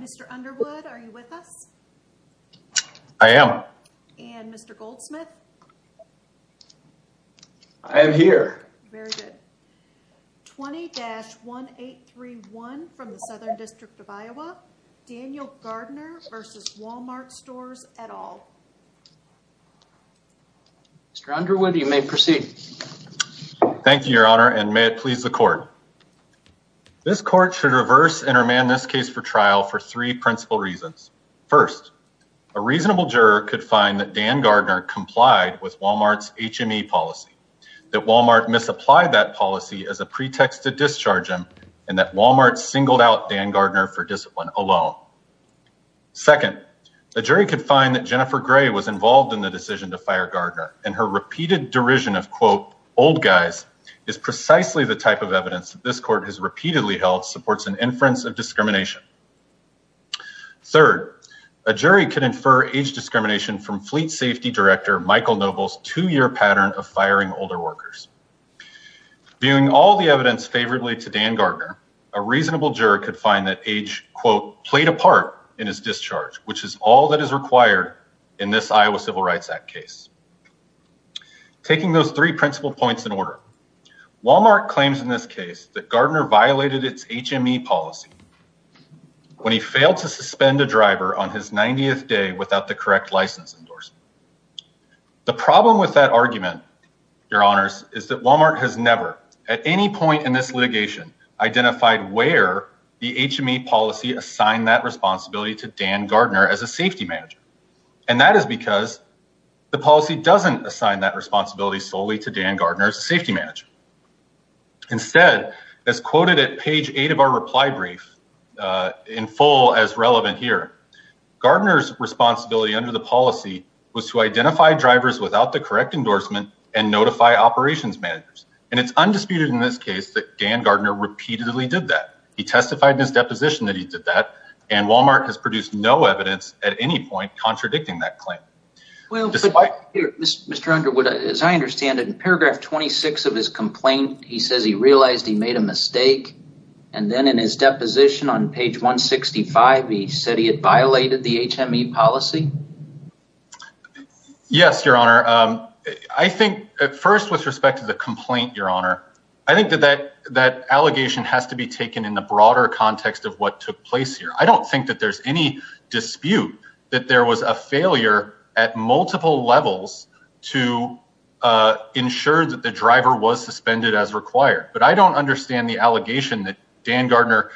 Mr. Underwood, are you with us? I am. And Mr. Goldsmith? I am here. Very good. 20-1831 from the Southern District of Iowa, Daniel Gardner v. Wal-Mart Stores et al. Mr. Underwood, you may proceed. Thank you, Your Honor, and may it please the court. This court should reverse and remand this case for trial for three principal reasons. First, a reasonable juror could find that Dan Gardner complied with Wal-Mart's HME policy, that Wal-Mart misapplied that policy as a pretext to discharge him, and that Wal-Mart singled out Dan Gardner for discipline alone. Second, a jury could find that Jennifer Gray was involved in the decision to fire Gardner, and her repeated derision of, quote, old guys is precisely the type of evidence that this court has repeatedly held supports an inference of discrimination. Third, a jury could infer age discrimination from Fleet Safety Director Michael Noble's two-year pattern of firing older workers. Viewing all the evidence favorably to Dan Gardner, a reasonable juror could find that age, quote, played a part in his discharge, which is all that is required in this Iowa Civil Rights Act case. Taking those three principal points in order, Wal-Mart claims in this case that Gardner violated its HME policy when he failed to suspend a driver on his 90th day without the correct license endorsement. The problem with that argument, Your Honors, is that Wal-Mart has never, at any point in this litigation, identified where the HME policy assigned that responsibility to Dan Gardner as a safety manager. And that is because the policy doesn't assign that responsibility solely to Dan Gardner as a safety manager. Instead, as quoted at page 8 of our reply brief, in full as relevant here, Gardner's responsibility under the policy was to identify drivers without the correct endorsement and notify operations managers. And it's undisputed in this case that Dan Gardner repeatedly did that. He testified in his deposition that he did that, and Wal-Mart has produced no evidence at any point contradicting that claim. Well, Mr. Underwood, as I understand it, in paragraph 26 of his complaint, he says he realized he made a mistake. And then in his deposition on page 165, he said he had violated the HME policy. Yes, Your Honor. I think at first, with respect to the complaint, Your Honor, I think that that allegation has to be taken in the broader context of what took place here. I don't think that there's any dispute that there was a failure at multiple levels to ensure that the driver was suspended as required. But I don't understand the allegation that Dan Gardner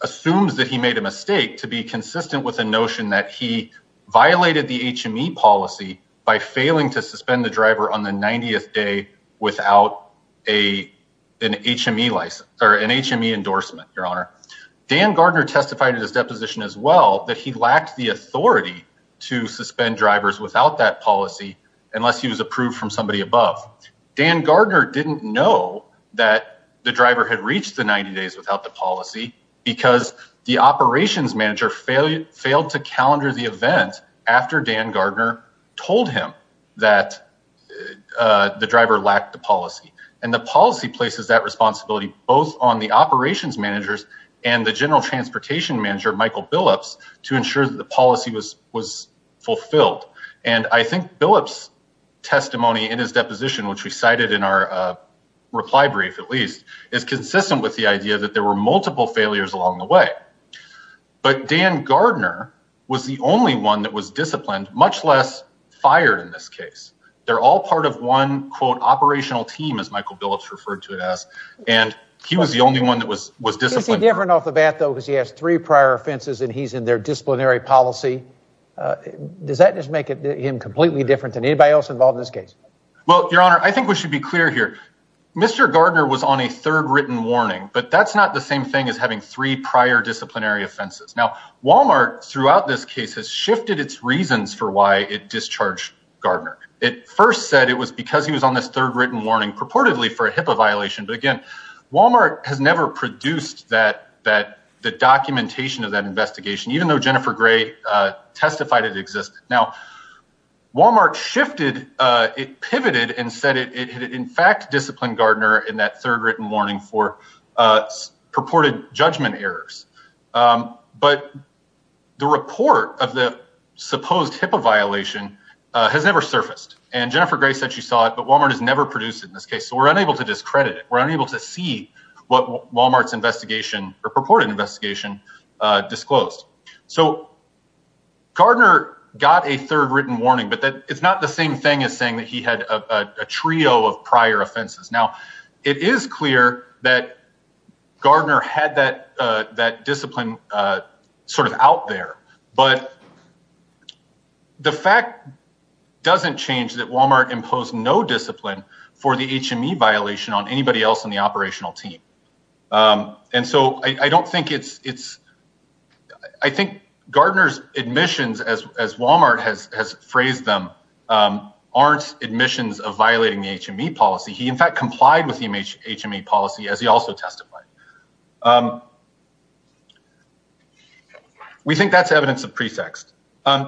assumes that he made a mistake to be consistent with the notion that he violated the HME policy by failing to suspend the driver on the 90th day without an HME license or an HME endorsement, Your Honor. Dan Gardner testified in his deposition as well that he lacked the authority to suspend drivers without that policy unless he was approved from somebody above. Dan Gardner didn't know that the driver had reached the 90 days without the policy because the operations manager failed to calendar the event after Dan Gardner told him that the driver lacked the policy. And the policy places that responsibility both on the operations managers and the general transportation manager, Michael Billups, to ensure that the policy was fulfilled. And I think Billups' testimony in his deposition, which we cited in our reply brief, at least, is consistent with the idea that there were multiple failures along the way. But Dan Gardner was the only one that was disciplined, much less fired in this case. They're all part of one, quote, operational team, as Michael Billups referred to it as, and he was the only one that was disciplined. Is he different off the bat, though, because he has three prior offenses and he's in their disciplinary policy? Does that just make him completely different than anybody else involved in this case? Well, Your Honor, I think we should be clear here. Mr. Gardner was on a third written warning, but that's not the same thing as having three prior disciplinary offenses. Now, Wal-Mart throughout this case has shifted its reasons for why it discharged Gardner. It first said it was because he was on this third written warning purportedly for a HIPAA violation. But again, Wal-Mart has never produced that that the documentation of that investigation, even though Jennifer Gray testified it existed. Now, Wal-Mart shifted it, pivoted and said it in fact disciplined Gardner in that third written warning for purported judgment errors. But the report of the supposed HIPAA violation has never surfaced. And Jennifer Gray said she saw it, but Wal-Mart has never produced it in this case. So we're unable to discredit it. We're unable to see what Wal-Mart's investigation or purported investigation disclosed. So Gardner got a third written warning, but it's not the same thing as saying that he had a trio of prior offenses. Now, it is clear that Gardner had that that discipline sort of out there. But the fact doesn't change that Wal-Mart imposed no discipline for the HME violation on anybody else in the operational team. And so I don't think it's it's I think Gardner's admissions, as Wal-Mart has phrased them, aren't admissions of violating the HME policy. He, in fact, complied with the HME policy, as he also testified. We think that's evidence of pretext.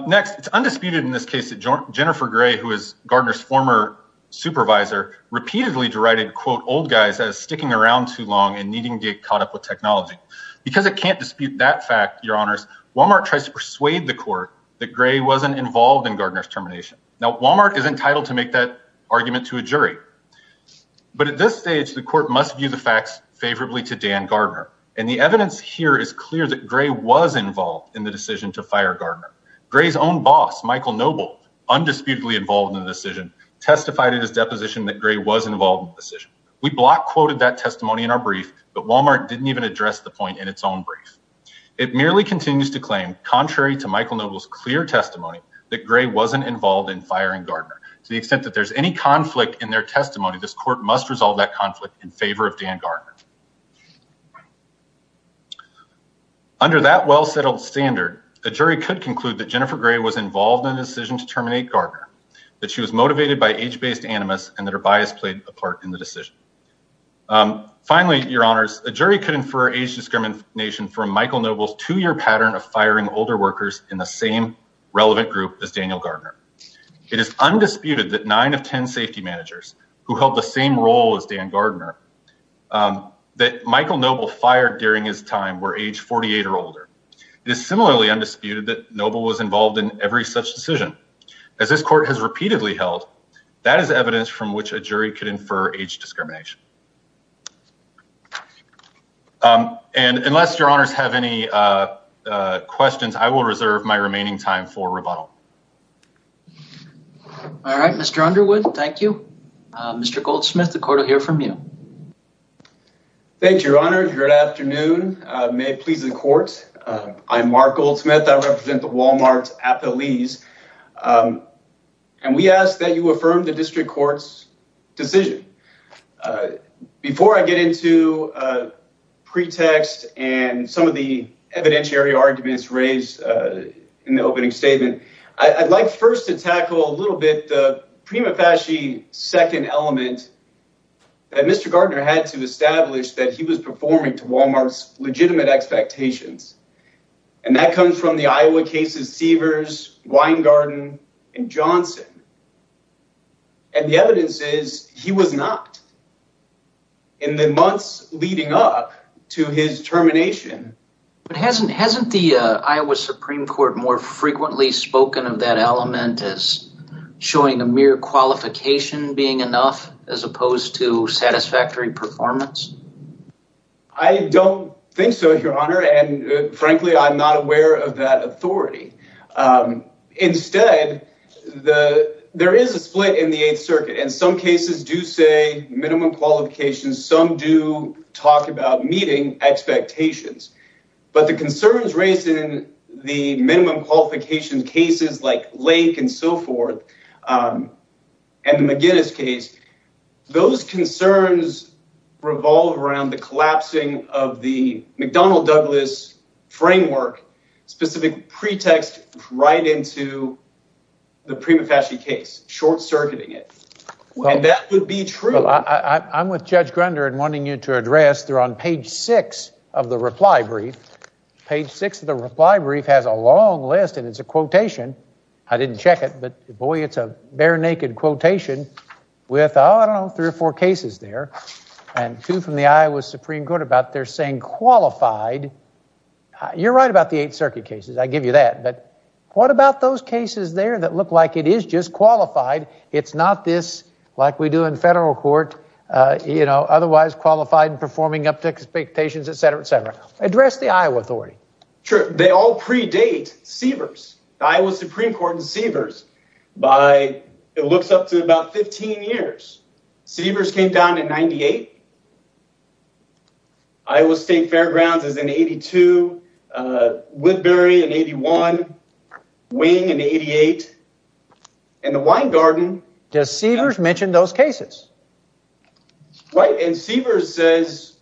Next, it's undisputed in this case that Jennifer Gray, who is Gardner's former supervisor, repeatedly derided, quote, old guys as sticking around too long and needing to get caught up with technology. Because it can't dispute that fact, your honors, Wal-Mart tries to persuade the court that Gray wasn't involved in Gardner's termination. Now, Wal-Mart is entitled to make that argument to a jury. But at this stage, the court must view the facts favorably to Dan Gardner. And the evidence here is clear that Gray was involved in the decision to fire Gardner. Gray's own boss, Michael Noble, undisputedly involved in the decision, testified in his deposition that Gray was involved in the decision. We block quoted that testimony in our brief, but Wal-Mart didn't even address the point in its own brief. It merely continues to claim, contrary to Michael Noble's clear testimony, that Gray wasn't involved in firing Gardner. To the extent that there's any conflict in their testimony, this court must resolve that conflict in favor of Dan Gardner. Under that well-settled standard, a jury could conclude that Jennifer Gray was involved in the decision to terminate Gardner, that she was motivated by age-based animus and that her bias played a part in the decision. Finally, Your Honors, a jury could infer age discrimination from Michael Noble's two-year pattern of firing older workers in the same relevant group as Daniel Gardner. It is undisputed that nine of 10 safety managers who held the same role as Dan Gardner that Michael Noble fired during his time were age 48 or older. It is similarly undisputed that Noble was involved in every such decision. As this court has repeatedly held, that is evidence from which a jury could infer age discrimination. And unless Your Honors have any questions, I will reserve my remaining time for rebuttal. All right, Mr. Underwood, thank you. Mr. Goldsmith, the court will hear from you. Thank you, Your Honor. Good afternoon. May it please the court. I'm Mark Goldsmith. I represent the Wal-Mart's appellees. And we ask that you affirm the district court's decision. Before I get into pretext and some of the evidentiary arguments raised in the opening statement, I'd like first to tackle a little bit the prima facie second element that Mr. Gardner had to establish that he was performing to Wal-Mart's legitimate expectations. And that comes from the Iowa cases, Seavers, Weingarten and Johnson. And the evidence is he was not. In the months leading up to his termination. But hasn't hasn't the Iowa Supreme Court more frequently spoken of that element as showing a mere qualification being enough as opposed to satisfactory performance? I don't think so, Your Honor. And frankly, I'm not aware of that authority. Instead, the there is a split in the Eighth Circuit and some cases do say minimum qualifications. Some do talk about meeting expectations, but the concerns raised in the minimum qualification cases like Lake and so forth and McGinnis case. Those concerns revolve around the collapsing of the McDonnell Douglas framework, specific pretext right into the prima facie case, short circuiting it. And that would be true. I'm with Judge Grunder and wanting you to address there on page six of the reply brief. Page six of the reply brief has a long list and it's a quotation. I didn't check it, but boy, it's a bare naked quotation with, oh, I don't know, three or four cases there and two from the Iowa Supreme Court about they're saying qualified. You're right about the Eighth Circuit cases. I give you that. But what about those cases there that look like it is just qualified? It's not this like we do in federal court, you know, otherwise qualified and performing up to expectations, et cetera, et cetera. Address the Iowa authority. Sure. They all predate Sievers. Iowa Supreme Court and Sievers by it looks up to about 15 years. Sievers came down in 98. Iowa State Fairgrounds is in 82. Whitberry in 81. Wing in 88. And the Wine Garden. Does Sievers mention those cases? Right. And Sievers says.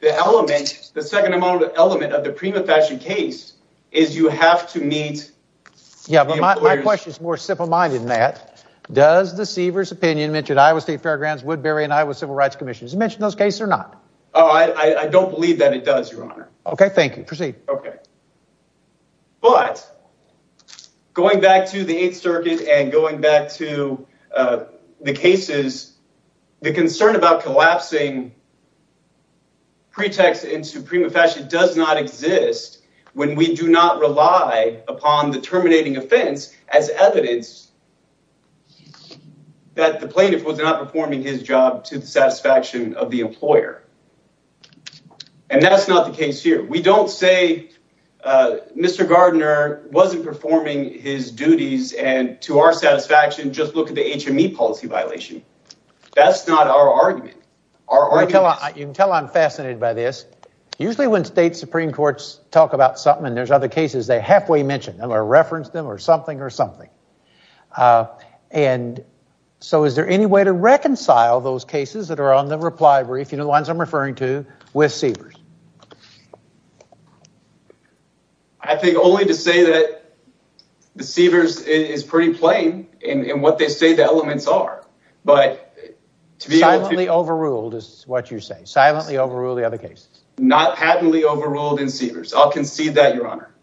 The element, the second element of the prima facie case is you have to meet. Yeah, but my question is more simple minded than that. Does the Sievers opinion mentioned Iowa State Fairgrounds, Woodbury and Iowa Civil Rights Commission mentioned those cases or not? I don't believe that it does, Your Honor. OK, thank you. Proceed. OK. But going back to the Eighth Circuit and going back to the cases, the concern about collapsing. Pretext into prima facie does not exist when we do not rely upon the terminating offense as evidence. That the plaintiff was not performing his job to the satisfaction of the employer. And that's not the case here. We don't say Mr. Gardner wasn't performing his duties. And to our satisfaction, just look at the HME policy violation. That's not our argument. You can tell I'm fascinated by this. Usually when state Supreme Courts talk about something and there's other cases, they halfway mention them or reference them or something or something. And so is there any way to reconcile those cases that are on the reply brief, you know, the ones I'm referring to with Sievers? I think only to say that the Sievers is pretty plain in what they say the elements are. But to be silently overruled is what you're saying. Silently overruled the other cases. Not patently overruled in Sievers. I'll concede that, Your Honor.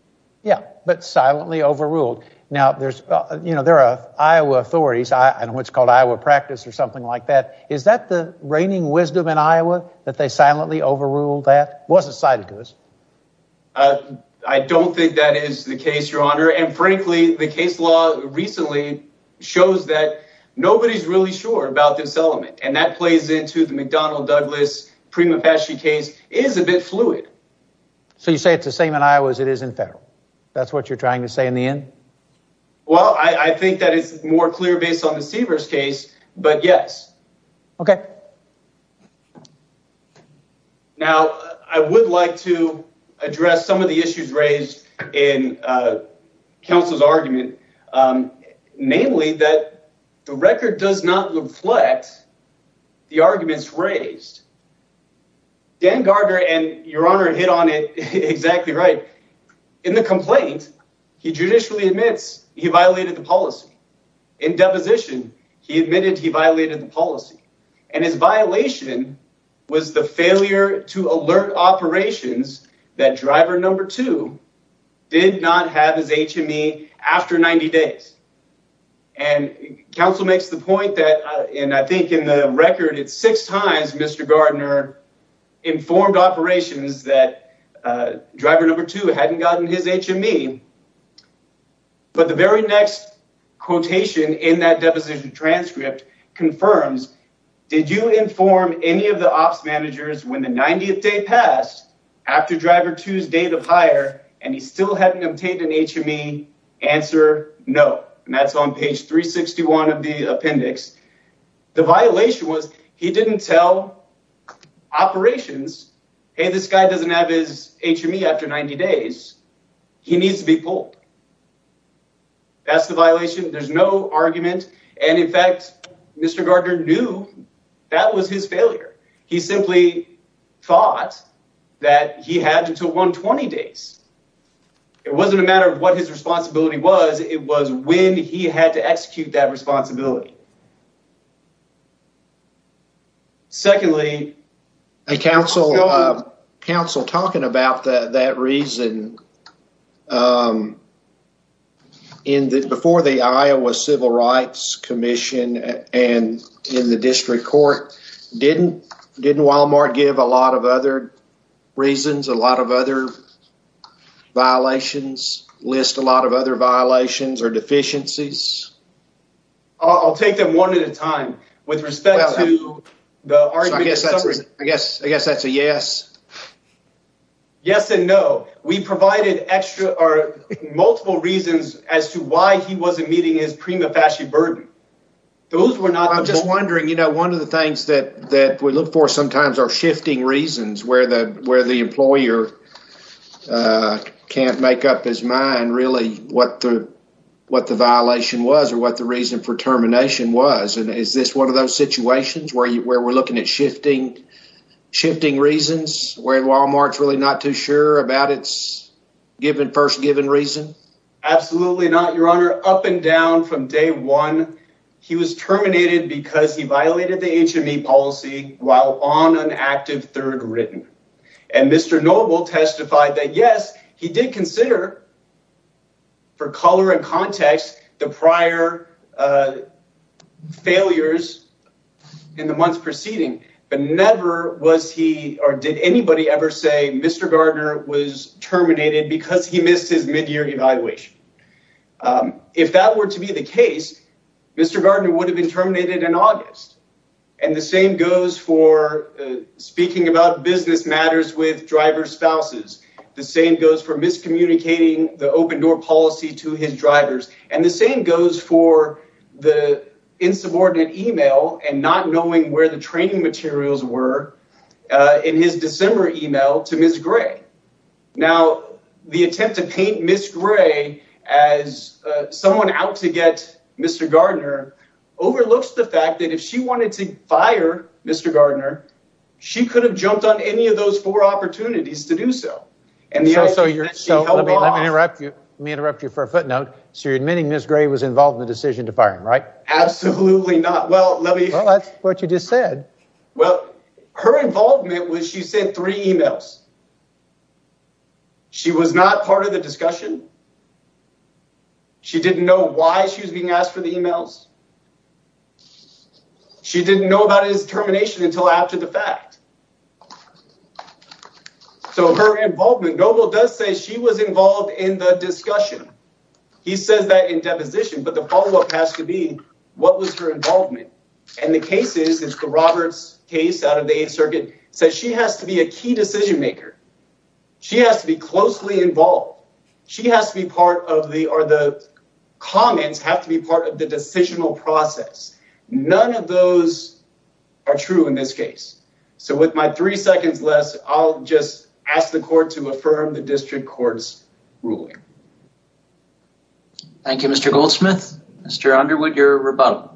Yeah, but silently overruled. Now, there's, you know, there are Iowa authorities and what's called Iowa practice or something like that. Is that the reigning wisdom in Iowa that they silently overruled that wasn't cited to us? I don't think that is the case, Your Honor. And frankly, the case law recently shows that nobody's really sure about this element. And that plays into the McDonnell Douglas prima facie case is a bit fluid. So you say it's the same in Iowa as it is in federal. That's what you're trying to say in the end. Well, I think that is more clear based on the Sievers case, but yes. OK. Now, I would like to address some of the issues raised in counsel's argument, namely that the record does not reflect the arguments raised. Dan Garger and Your Honor hit on it exactly right in the complaint. He judicially admits he violated the policy in deposition. He admitted he violated the policy and his violation was the failure to alert operations that driver number two did not have his HME after 90 days. And counsel makes the point that and I think in the record, it's six times Mr. Gardner informed operations that driver number two hadn't gotten his HME. But the very next quotation in that deposition transcript confirms. Did you inform any of the ops managers when the 90th day passed after driver two's date of hire and he still hadn't obtained an HME answer? No. And that's on page 361 of the appendix. The violation was he didn't tell operations. Hey, this guy doesn't have his HME after 90 days. He needs to be pulled. That's the violation. There's no argument. And in fact, Mr. Gardner knew that was his failure. He simply thought that he had until 120 days. It wasn't a matter of what his responsibility was. It was when he had to execute that responsibility. Secondly. Hey, counsel, talking about that reason, before the Iowa Civil Rights Commission and in the district court, didn't Walmart give a lot of other reasons, a lot of other violations, list a lot of other violations or deficiencies? I'll take them one at a time with respect to the argument. I guess I guess that's a yes. Yes and no. We provided extra or multiple reasons as to why he wasn't meeting his prima facie burden. I'm just wondering, you know, one of the things that that we look for sometimes are shifting reasons where the where the employer can't make up his mind really what the what the violation was or what the reason for termination was. And is this one of those situations where you where we're looking at shifting, shifting reasons where Walmart's really not too sure about its given first given reason? Absolutely not, Your Honor. Up and down from day one, he was terminated because he violated the HME policy while on an active third written. And Mr. Noble testified that, yes, he did consider. For color and context, the prior failures in the months preceding, but never was he or did anybody ever say Mr. Gardner was terminated because he missed his midyear evaluation. If that were to be the case, Mr. Gardner would have been terminated in August. And the same goes for speaking about business matters with driver spouses. The same goes for miscommunicating the open door policy to his drivers. And the same goes for the insubordinate email and not knowing where the training materials were in his December email to Miss Gray. Now, the attempt to paint Miss Gray as someone out to get Mr. Gardner overlooks the fact that if she wanted to fire Mr. Gardner, she could have jumped on any of those four opportunities to do so. And so you're interrupting me, interrupt you for a footnote. So you're admitting Miss Gray was involved in the decision to fire him, right? Absolutely not. Well, let me know what you just said. Well, her involvement was she sent three emails. She was not part of the discussion. She didn't know why she was being asked for the emails. She didn't know about his termination until after the fact. So her involvement, Noble does say she was involved in the discussion. He says that in deposition, but the follow up has to be what was her involvement? And the cases is the Roberts case out of the Eighth Circuit says she has to be a key decision maker. She has to be closely involved. She has to be part of the or the comments have to be part of the decisional process. None of those are true in this case. So with my three seconds less, I'll just ask the court to affirm the district court's ruling. Thank you, Mr. Goldsmith. Mr. Underwood, your rebuttal.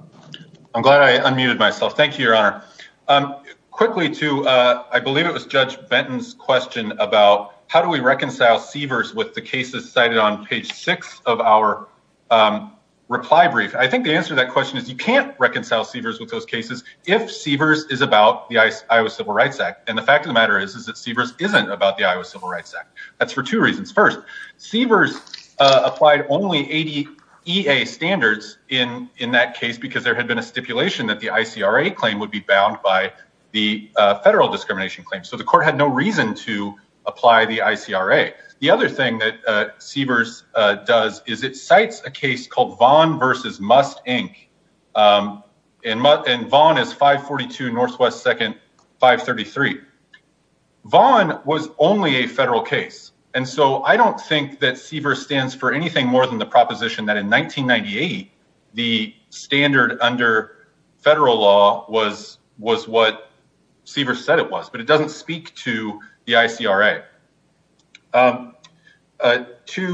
I'm glad I unmuted myself. Thank you, Your Honor. Quickly, too, I believe it was Judge Benton's question about how do we reconcile Sievers with the cases cited on page six of our reply brief. I think the answer to that question is you can't reconcile Sievers with those cases if Sievers is about the Iowa Civil Rights Act. And the fact of the matter is, is that Sievers isn't about the Iowa Civil Rights Act. That's for two reasons. First, Sievers applied only 80 E.A. standards in that case because there had been a stipulation that the ICRA claim would be bound by the federal discrimination claim. So the court had no reason to apply the ICRA. The other thing that Sievers does is it cites a case called Vaughn versus Must, Inc. And Vaughn is 542 NW 2nd 533. Vaughn was only a federal case. I don't think that Sievers stands for anything more than the proposition that in 1998, the standard under federal law was what Sievers said it was. But it doesn't speak to the ICRA. To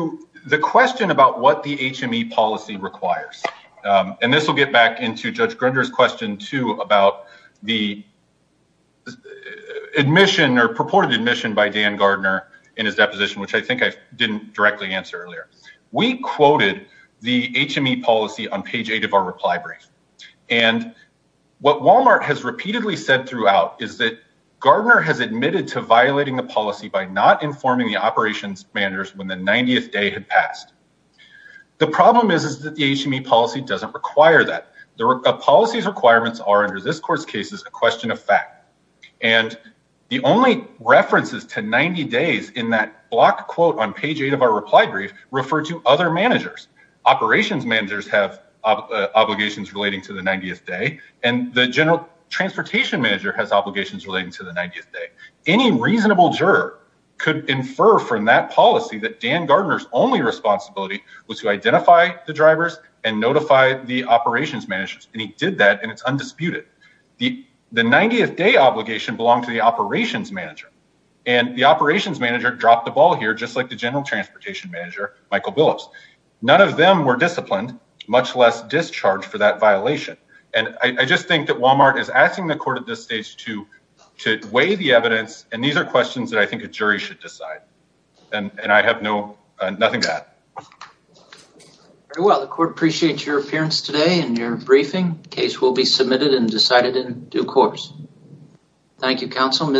the question about what the HME policy requires. And this will get back into Judge Grunder's question, too, about the admission or purported admission by Dan Gardner in his deposition, which I think I didn't directly answer earlier. We quoted the HME policy on page 8 of our reply brief. And what Walmart has repeatedly said throughout is that Gardner has admitted to violating the policy by not informing the operations managers when the 90th day had passed. The problem is that the HME policy doesn't require that. The policy's requirements are, under this court's case, a question of fact. And the only references to 90 days in that block quote on page 8 of our reply brief refer to other managers. Operations managers have obligations relating to the 90th day. And the general transportation manager has obligations relating to the 90th day. Any reasonable juror could infer from that policy that Dan Gardner's only responsibility was to identify the drivers and notify the operations managers. And he did that, and it's undisputed. The 90th day obligation belonged to the operations manager. And the operations manager dropped the ball here, just like the general transportation manager, Michael Billups. None of them were disciplined, much less discharged for that violation. And I just think that Walmart is asking the court at this stage to weigh the evidence, and these are questions that I think a jury should decide. And I have nothing to add. Very well. The court appreciates your appearance today and your briefing. The case will be submitted and decided in due course. Thank you, counsel.